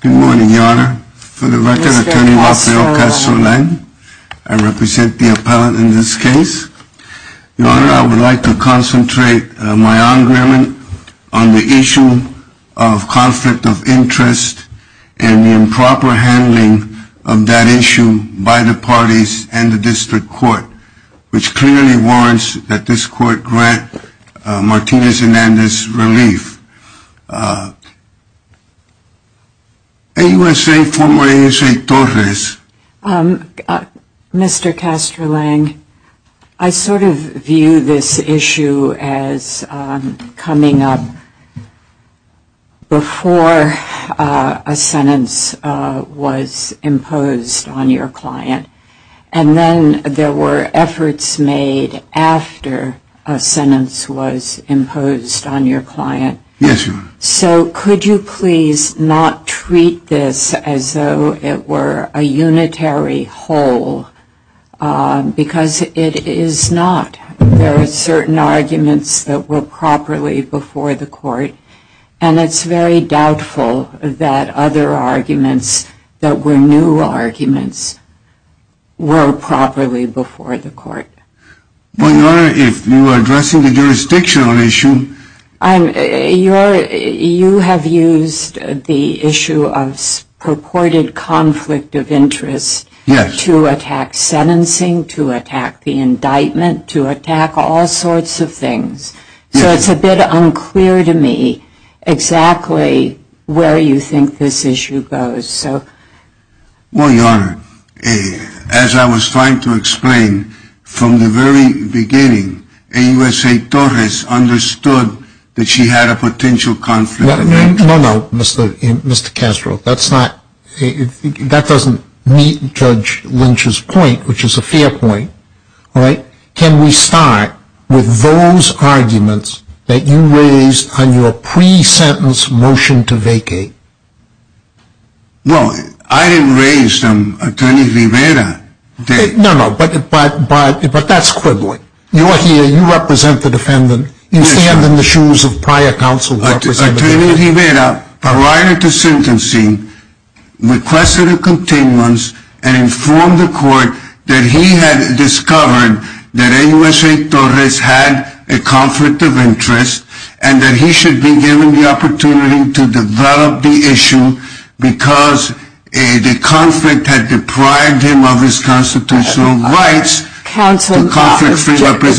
Good morning, Your Honor. For the record, Attorney Rafael Castro-Len, I represent the Court of Appeals, and I'm here to discuss the issue of conflict of interest and the improper handling of that issue by the parties and the District Court, which clearly warrants that this Court grant Martinez-Hernandez relief. AUSA, former AUSA Torres. Mr. Castro-Len, I sort of view this issue as coming up before a sentence was imposed on your client, and then there were efforts made after a sentence was imposed on your client. Yes, Your Honor. So could you please not treat this as though it were a unitary whole, because it is not. There are certain arguments that were properly before the Court, and it's very doubtful that other arguments that were new arguments were properly before the Court. Well, Your Honor, if you are addressing the jurisdictional issue… You have used the issue of purported conflict of interest to attack sentencing, to attack the indictment, to attack all sorts of things. So it's a bit unclear to me exactly where you think this issue goes. Well, Your Honor, as I was trying to explain, from the very beginning, AUSA Torres understood that she had a potential conflict of interest. No, no, Mr. Castro. That doesn't meet Judge Lynch's point, which is a fair point. Can we start with those arguments that you raised on your pre-sentence motion to vacate? Well, I didn't raise them. Attorney Rivera did. No, no, but that's quibbling. You are here. You represent the defendant. You stand in the shoes of prior counsel who represented the defendant. Counsel,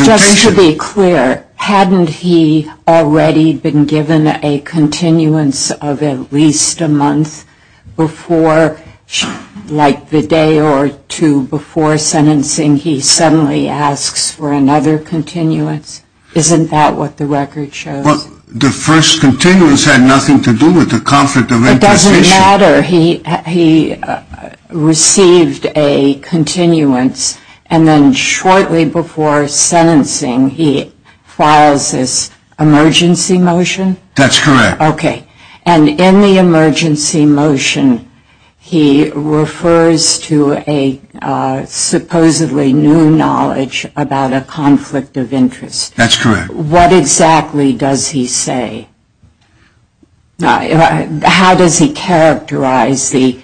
just to be clear, hadn't he already been given a continuance of at least a month before, like the day or two before sentencing, he suddenly asks for another continuance? Isn't that what the record shows? Well, the first continuance had nothing to do with the conflict of interest issue. It doesn't matter. He received a continuance, and then shortly before sentencing, he files this emergency motion? That's correct. Okay. And in the emergency motion, he refers to a supposedly new knowledge about a conflict of interest. That's correct. What exactly does he say? How does he characterize the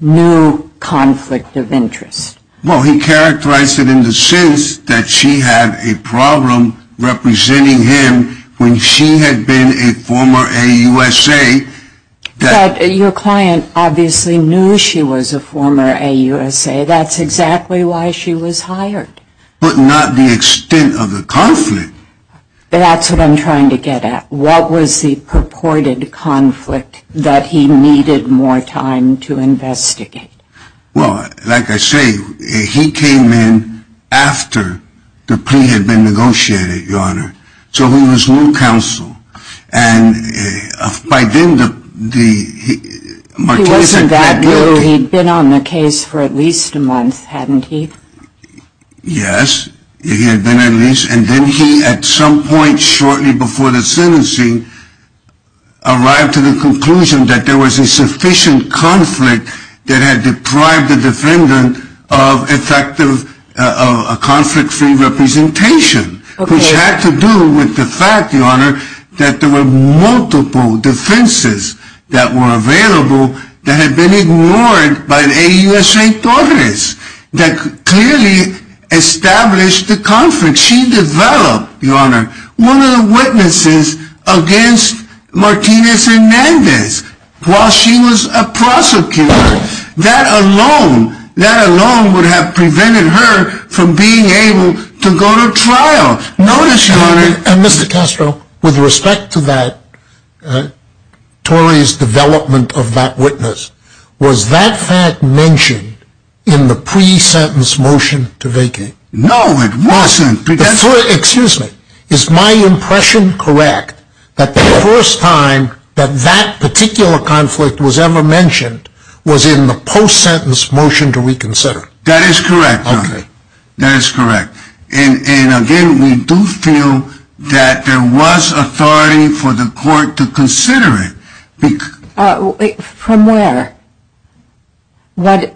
new conflict of interest? Well, he characterized it in the sense that she had a problem representing him when she had been a former AUSA. But your client obviously knew she was a former AUSA. That's exactly why she was hired. But not the extent of the conflict? That's what I'm trying to get at. What was the purported conflict that he needed more time to investigate? Well, like I say, he came in after the plea had been negotiated, Your Honor. So he was new counsel. And by then, the Martinez had had the ability He wasn't that new. He'd been on the case for at least a month, hadn't he? Yes, he had been at least. And then he, at some point shortly before the sentencing, arrived to the conclusion that there was a sufficient conflict that had deprived the defendant of a conflict-free representation, which had to do with the fact, Your Honor, that there were multiple defenses that were available that had been ignored by the AUSA authorities that clearly established the conflict. She developed, Your Honor, one of the witnesses against Martinez Hernandez while she was a prosecutor. That alone, that alone would have prevented her from being able to go to trial. Notice, Your Honor... And Mr. Castro, with respect to that, Torrey's development of that witness, was that fact mentioned in the pre-sentence motion to vacate? No, it wasn't. Excuse me. Is my impression correct that the first time that that particular conflict was ever mentioned was in the post-sentence motion to reconsider? That is correct, Your Honor. That is correct. And again, we do feel that there was authority for the court to consider it. From where? What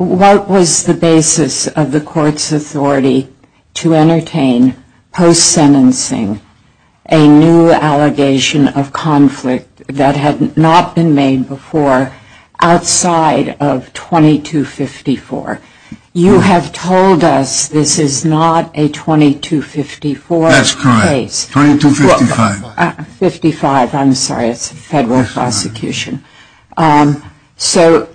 was the basis of the court's authority to entertain post-sentencing a new allegation of conflict that had not been made before outside of 2254? You have told us this is not a 2254 case. That's correct. 2255. 55, I'm sorry. It's a federal prosecution. So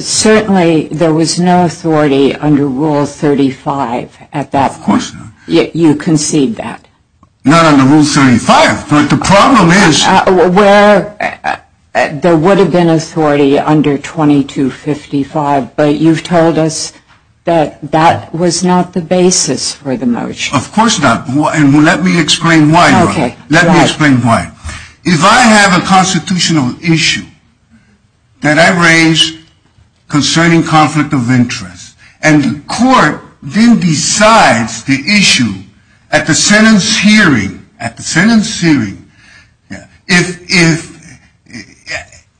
certainly there was no authority under Rule 35 at that point. Of course not. Yet you concede that. Not under Rule 35. But the problem is... There would have been authority under 2255, but you've told us that that was not the basis for the motion. Of course not. And let me explain why, Your Honor. Let me explain why. If I have a constitutional issue that I raise concerning conflict of interest, and the court then decides the issue at the sentence hearing,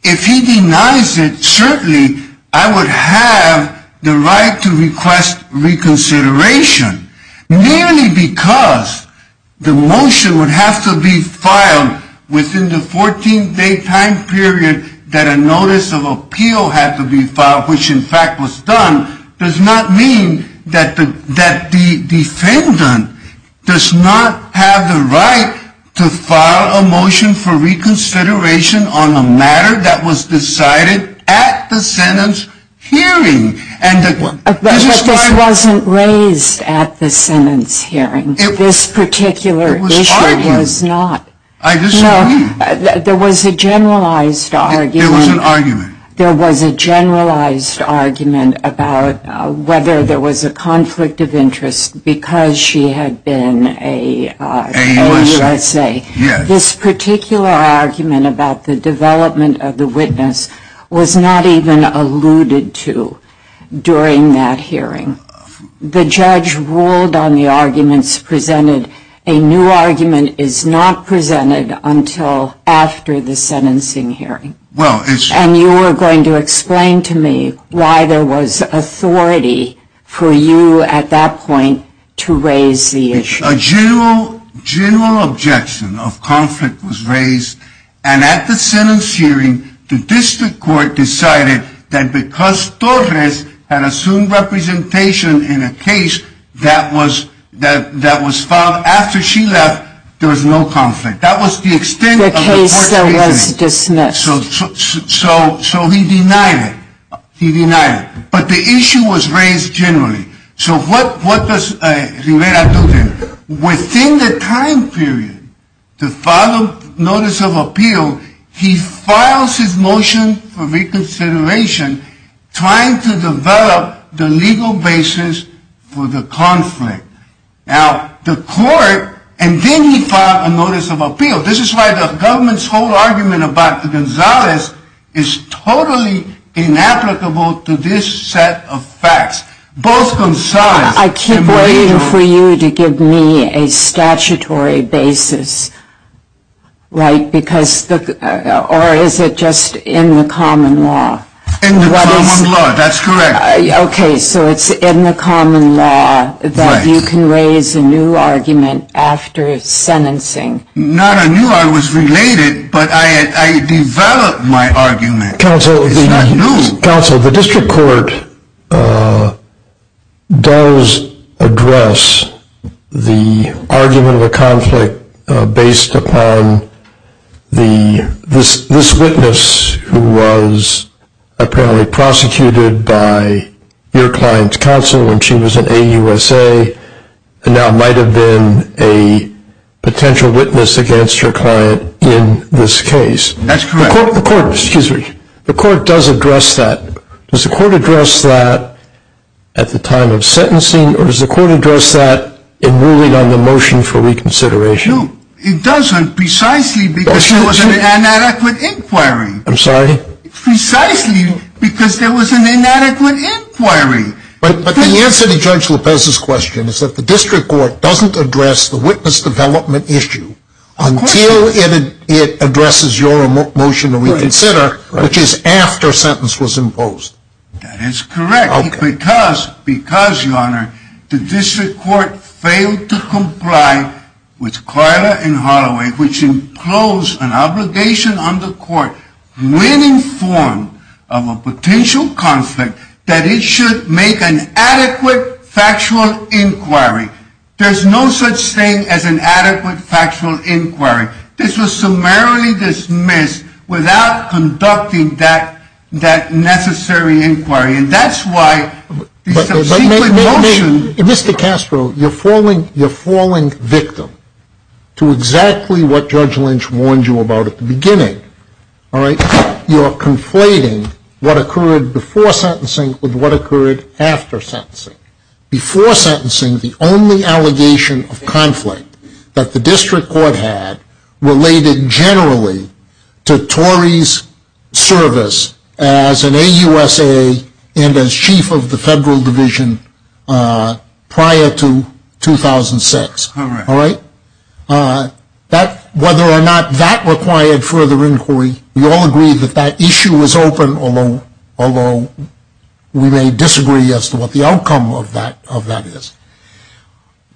if he denies it, certainly I would have the right to request reconsideration, merely because the motion would have to be filed within the 14-day time period that a notice of appeal had to be filed, which in fact was done, does not mean that the defendant does not have the right to file a motion for reconsideration on a matter that was decided at the sentence hearing. But this wasn't raised at the sentence hearing. This particular issue was not. I disagree. No, there was a generalized argument. There was an argument. about whether there was a conflict of interest because she had been a USA. Yes. This particular argument about the development of the witness was not even alluded to during that hearing. The judge ruled on the arguments presented. A new argument is not presented until after the sentencing hearing. Well, it's... And you were going to explain to me why there was authority for you at that point to raise the issue. A general objection of conflict was raised, and at the sentence hearing, the district court decided that because Torres had assumed representation in a case that was filed after she left, there was no conflict. That was the extent of the court reasoning. The case that was dismissed. So he denied it. He denied it. But the issue was raised generally. So what does Rivera do then? Within the time period to file a notice of appeal, he files his motion for reconsideration trying to develop the legal basis for the conflict. Now, the court, and then he filed a notice of appeal. This is why the government's whole argument about Gonzalez is totally inapplicable to this set of facts. Both Gonzalez and Rivera... I keep waiting for you to give me a statutory basis, right? Because, or is it just in the common law? In the common law, that's correct. Okay, so it's in the common law that you can raise a new argument after sentencing. Not a new, I was related, but I developed my argument. It's not new. Counsel, the district court does address the argument of a conflict based upon this witness who was apparently prosecuted by your client's counsel when she was in AUSA and now might have been a potential witness against your client in this case. That's correct. The court does address that. Does the court address that at the time of sentencing, or does the court address that in ruling on the motion for reconsideration? No, it doesn't, precisely because there was an inadequate inquiry. I'm sorry? Precisely because there was an inadequate inquiry. But the answer to Judge Lopez's question is that the district court doesn't address the witness development issue until it addresses your motion to reconsider, which is after sentence was imposed. That is correct. Okay. Because, because, your honor, the district court failed to comply with Carla and Holloway, which impose an obligation on the court when informed of a potential conflict that it should make an adequate factual inquiry. There's no such thing as an adequate factual inquiry. This was summarily dismissed without conducting that necessary inquiry. And that's why the subsequent motion… Mr. Castro, you're falling victim to exactly what Judge Lynch warned you about at the beginning. All right? You're conflating what occurred before sentencing with what occurred after sentencing. Before sentencing, the only allegation of conflict that the district court had related generally to Torrey's service as an AUSA and as chief of the federal division prior to 2006. All right? All right? Whether or not that required further inquiry, we all agree that that issue was open, although we may disagree as to what the outcome of that is.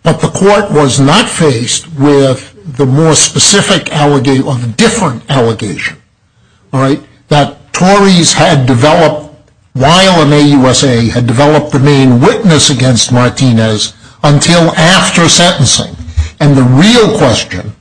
But the court was not faced with the more specific allegation or the different allegation, all right, that Torrey's had developed while an AUSA had developed the main witness against Martinez until after sentencing. And the real question,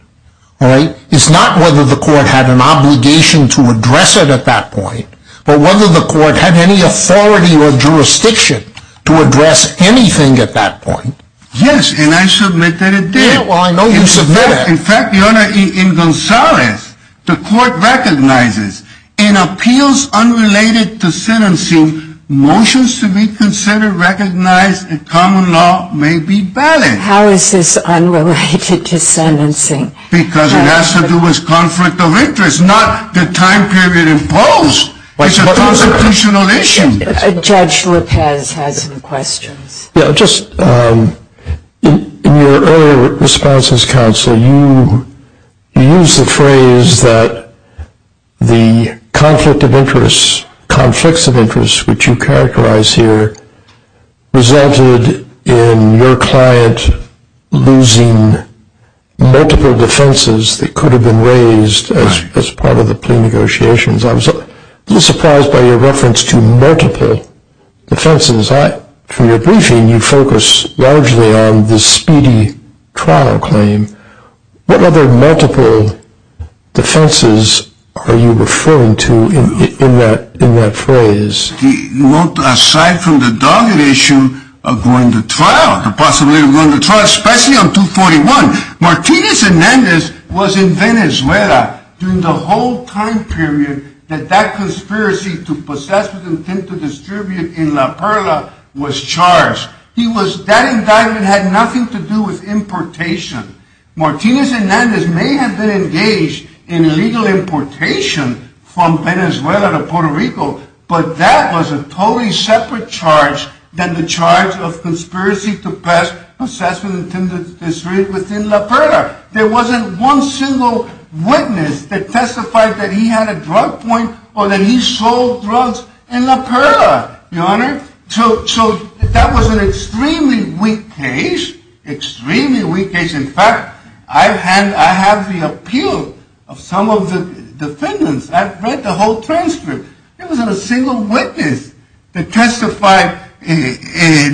all right, is not whether the court had an obligation to address it at that point, but whether the court had any authority or jurisdiction to address anything at that point. Yes, and I submit that it did. Yeah, well, I know you submit it. In fact, Your Honor, in Gonzales, the court recognizes in appeals unrelated to sentencing, motions to be considered, recognized, and common law may be valid. How is this unrelated to sentencing? Because it has to do with conflict of interest, not the time period imposed. It's a constitutional issue. Judge Lopez has some questions. Yeah, just in your earlier response as counsel, you used the phrase that the conflict of interest, which you characterize here, resulted in your client losing multiple defenses that could have been raised as part of the plea negotiations. I was a little surprised by your reference to multiple defenses. From your briefing, you focus largely on the speedy trial claim. What other multiple defenses are you referring to in that phrase? Well, aside from the dogged issue of going to trial, the possibility of going to trial, especially on 241. Martinez Hernandez was in Venezuela during the whole time period that that conspiracy to possess, with intent to distribute in La Perla, was charged. That indictment had nothing to do with importation. Martinez Hernandez may have been engaged in illegal importation from Venezuela to Puerto Rico, but that was a totally separate charge than the charge of conspiracy to possess with intent to distribute within La Perla. There wasn't one single witness that testified that he had a drug point or that he sold drugs in La Perla, Your Honor. So that was an extremely weak case, extremely weak case. In fact, I have the appeal of some of the defendants. I've read the whole transcript. There wasn't a single witness that testified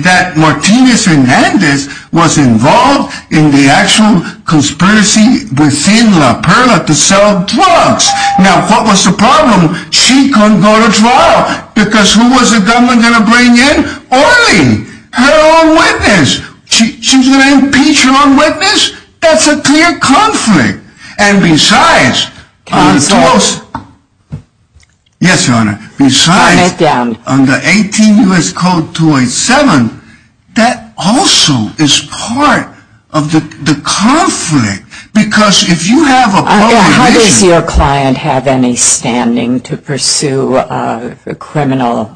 that Martinez Hernandez was involved in the actual conspiracy within La Perla to sell drugs. Now, what was the problem? She couldn't go to trial, because who was the government going to bring in? Only her own witness. She's going to impeach her own witness? That's a clear conflict. And besides, on the 18 U.S. Code 287, that also is part of the conflict. How does your client have any standing to pursue a criminal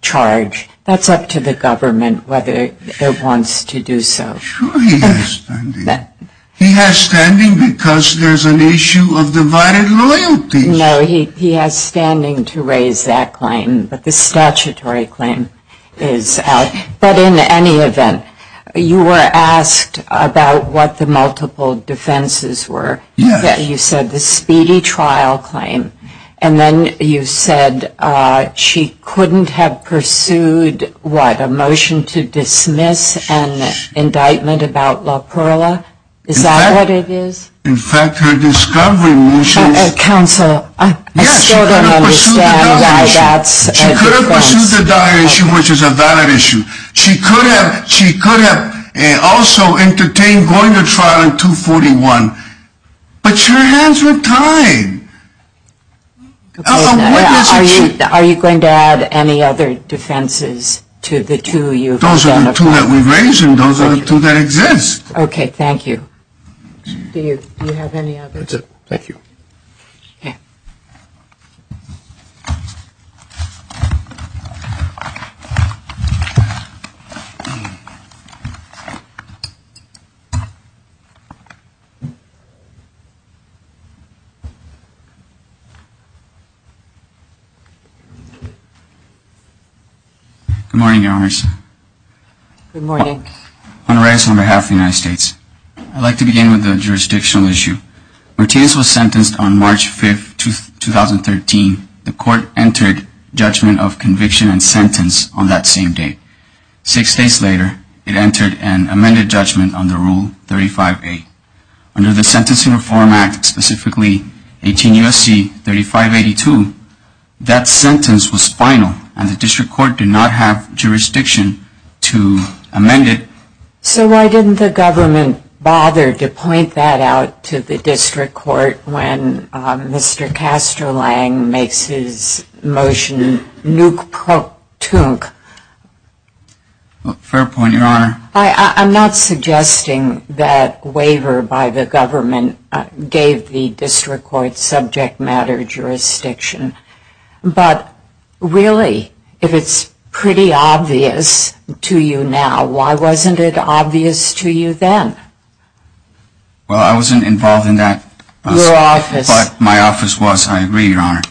charge? That's up to the government whether it wants to do so. Sure he has standing. He has standing because there's an issue of divided loyalty. No, he has standing to raise that claim, but the statutory claim is out. But in any event, you were asked about what the multiple defenses were. Yes. You said the speedy trial claim, and then you said she couldn't have pursued, what, a motion to dismiss an indictment about La Perla? Is that what it is? In fact, her discovery motion. Counsel, I still don't understand why that's a defense. She could have pursued the dire issue, which is a valid issue. She could have also entertained going to trial in 241, but her hands were tied. Are you going to add any other defenses to the two you've identified? Those are the two that we raised and those are the two that exist. Okay, thank you. Do you have any other? That's it. Thank you. Okay. Good morning, Your Honors. Good morning. Honorarius, on behalf of the United States, I'd like to begin with a jurisdictional issue. Martinez was sentenced on March 5th, 2013. The court entered judgment on March 5th, 2013. Six days later, it entered an amended judgment on the Rule 35A. Under the Sentencing Reform Act, specifically 18 U.S.C. 3582, that sentence was final, and the district court did not have jurisdiction to amend it. So why didn't the government bother to point that out to the district court when Mr. Castrolang makes his motion nuke-pro-tunk? Fair point, Your Honor. I'm not suggesting that waiver by the government gave the district court subject matter jurisdiction, but really, if it's pretty obvious to you now, why wasn't it obvious to you then? Well, I wasn't involved in that. Your office. But my office was, I agree, Your Honor.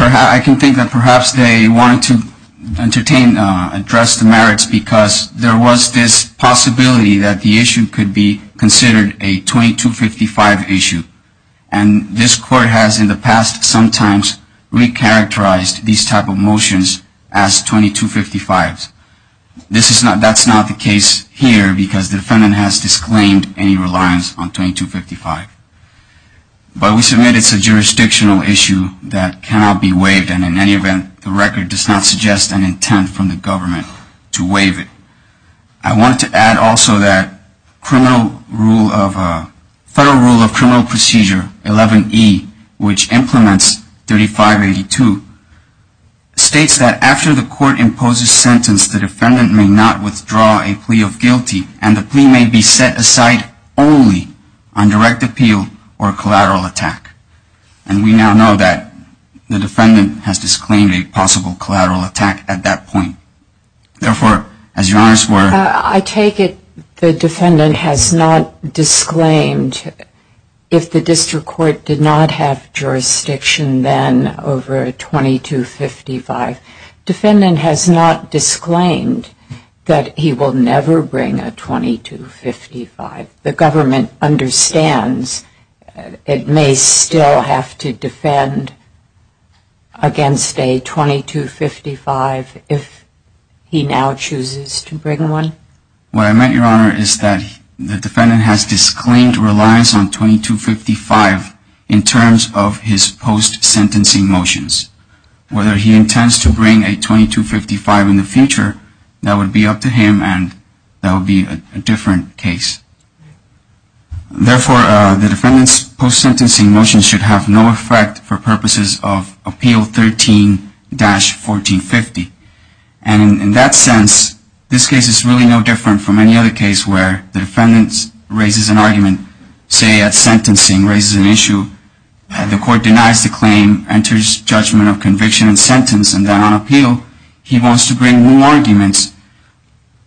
I can think that perhaps they wanted to entertain, address the merits, because there was this possibility that the issue could be considered a 2255 issue, and this court has in the past sometimes re-characterized these type of motions as 2255s. That's not the case here, because the defendant has disclaimed any reliance on 2255. But we submit it's a jurisdictional issue that cannot be waived, and in any event, the record does not suggest an intent from the government to waive it. I wanted to add also that Federal Rule of Criminal Procedure 11E, which implements 3582, states that after the court imposes sentence, the defendant may not withdraw a plea of guilty, and the plea may be set aside only on direct appeal or collateral attack. And we now know that the defendant has disclaimed a possible collateral attack at that point. Therefore, as Your Honor's were. I take it the defendant has not disclaimed if the district court did not have jurisdiction then over 2255. Defendant has not disclaimed that he will never bring a 2255. The government understands it may still have to defend against a 2255 if he now chooses to bring one? What I meant, Your Honor, is that the defendant has disclaimed reliance on 2255 in terms of his post-sentencing motions. Whether he intends to bring a 2255 in the future, that would be up to him, and that would be a different case. Therefore, the defendant's post-sentencing motions should have no effect for purposes of Appeal 13-1450. And in that sense, this case is really no different from any other case where the defendant raises an argument, say at sentencing, raises an issue, the court denies the claim, enters judgment of conviction and sentence, and then on appeal, he wants to bring new arguments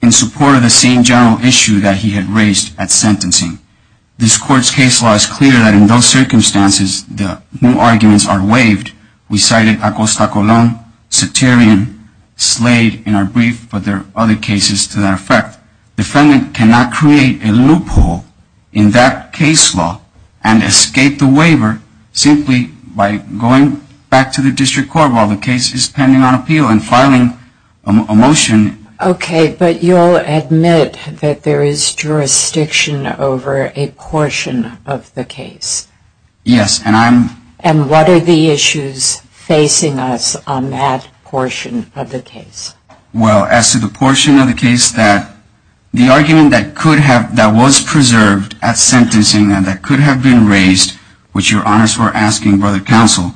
in support of the same general issue that he had raised at sentencing. This court's case law is clear that in those circumstances, the new arguments are waived. We cited Acosta-Colon, Ceterion, Slade in our brief, but there are other cases to that effect. Defendant cannot create a loophole in that case law and escape the waiver simply by going back to the district court while the case is pending on appeal and filing a motion. Okay, but you'll admit that there is jurisdiction over a portion of the case. Yes, and I'm... And what are the issues facing us on that portion of the case? Well, as to the portion of the case, the argument that was preserved at sentencing and that could have been raised, which Your Honors were asking for the counsel,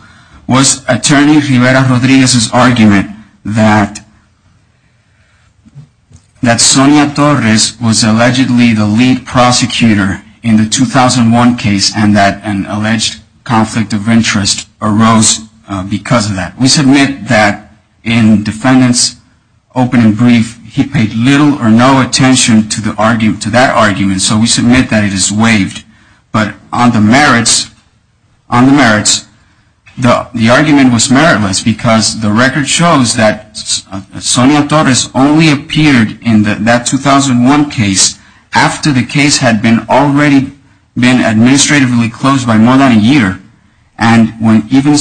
was Attorney Rivera-Rodriguez's argument that Sonia Torres was allegedly the lead prosecutor in the 2001 case and that an alleged conflict of interest arose because of that. We submit that in defendant's open and brief, he paid little or no attention to that argument, so we submit that it is waived. But on the merits, the argument was meritless because the record shows that Sonia Torres only appeared in that 2001 case after the case had already been administratively closed by more than a year. And even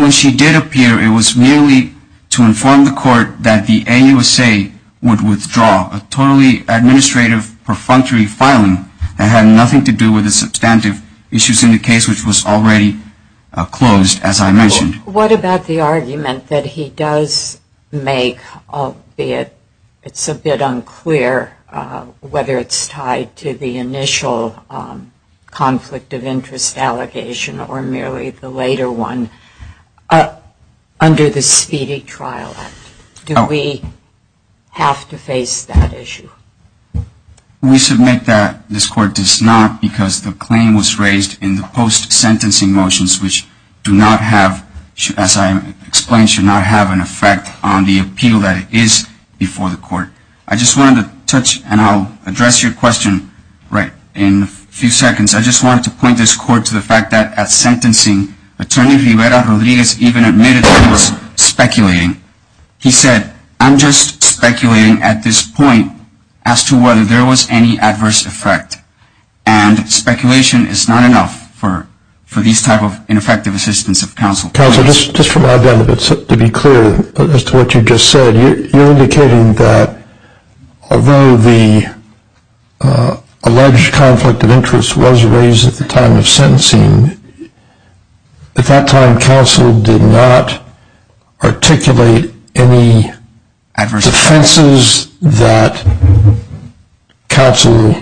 when she did appear, it was merely to inform the court that the AUSA would withdraw, a totally administrative, perfunctory filing that had nothing to do with the substantive issues in the case, which was already closed, as I mentioned. What about the argument that he does make, albeit it's a bit unclear whether it's tied to the initial conflict of interest allegation or merely the later one, under the Speedy Trial Act? Do we have to face that issue? We submit that this Court does not because the claim was raised in the post-sentencing motions, which do not have, as I explained, should not have an effect on the appeal that it is before the Court. I just wanted to touch, and I'll address your question in a few seconds, I just wanted to point this Court to the fact that at sentencing, Attorney Rivera-Rodriguez even admitted that he was speculating. He said, I'm just speculating at this point as to whether there was any adverse effect, and speculation is not enough for these type of ineffective assistance of counsel. Counsel, just for my benefit, to be clear as to what you just said, you're indicating that although the alleged conflict of interest was raised at the time of sentencing, at that time counsel did not articulate any defenses that counsel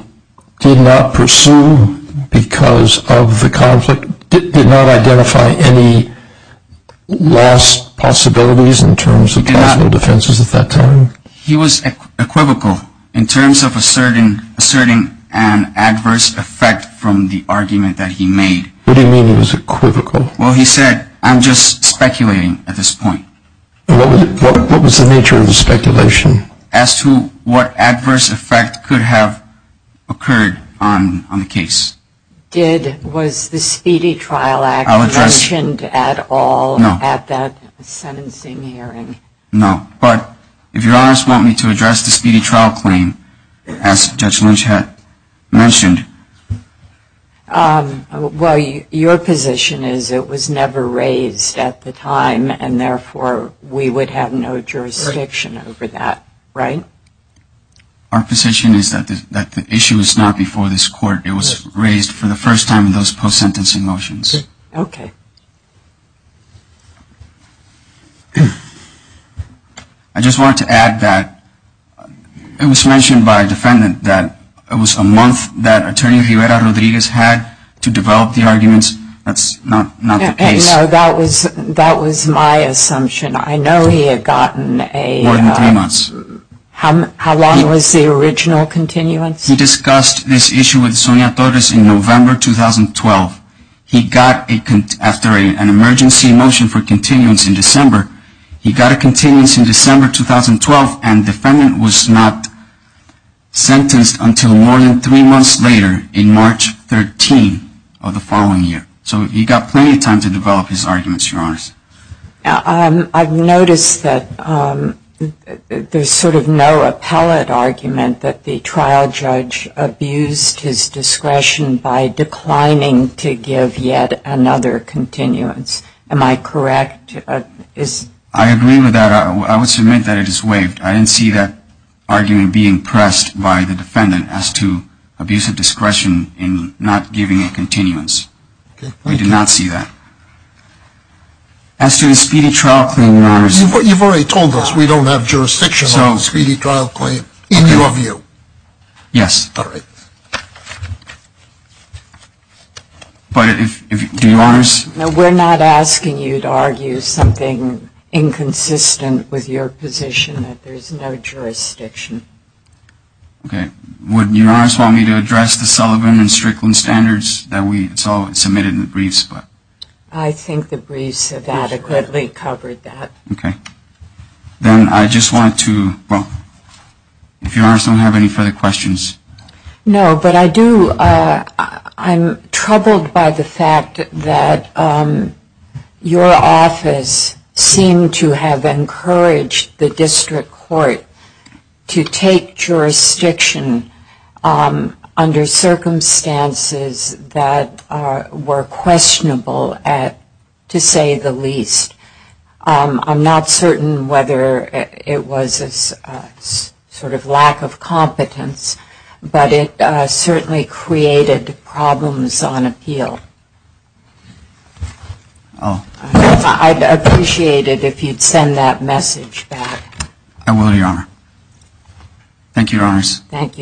did not pursue because of the conflict, did not identify any lost possibilities in terms of counsel defenses at that time? He was equivocal in terms of asserting an adverse effect from the argument that he made. What do you mean he was equivocal? Well, he said, I'm just speculating at this point. What was the nature of the speculation? As to what adverse effect could have occurred on the case. Did, was the Speedy Trial Act mentioned at all at that sentencing hearing? No, but if your honors want me to address the Speedy Trial Claim, as Judge Lynch had mentioned. Well, your position is it was never raised at the time, and therefore we would have no jurisdiction over that, right? Our position is that the issue was not before this court. It was raised for the first time in those post sentencing motions. Okay. I just wanted to add that it was mentioned by a defendant that it was a month that Attorney Rivera Rodriguez had to develop the arguments. That's not the case. No, that was my assumption. I know he had gotten a... More than three months. How long was the original continuance? He discussed this issue with Sonia Torres in November 2012. He got, after an emergency motion for continuance in December, he got a continuance in December 2012, and the defendant was not sentenced until more than three months later in March 13 of the following year. So he got plenty of time to develop his arguments, your honors. I've noticed that there's sort of no appellate argument that the trial judge abused his discretion by declining to give yet another continuance. Am I correct? I agree with that. I would submit that it is waived. I didn't see that argument being pressed by the defendant as to abusive discretion in not giving a continuance. We did not see that. As to a speedy trial claim, your honors... You've already told us we don't have jurisdiction on a speedy trial claim, in your view. Yes. All right. But if, do your honors... No, we're not asking you to argue something inconsistent with your position that there's no jurisdiction. Okay. Would your honors want me to address the Sullivan and Strickland standards that we submitted in the briefs? I think the briefs have adequately covered that. Okay. Then I just wanted to, well, if your honors don't have any further questions. No, but I do... I'm troubled by the fact that your office seemed to have encouraged the district court to take jurisdiction under circumstances that were questionable, to say the least. I'm not certain whether it was a sort of lack of competence, but it certainly created problems on appeal. Oh. I'd appreciate it if you'd send that message back. I will, your honor. Thank you, your honors. Thank you.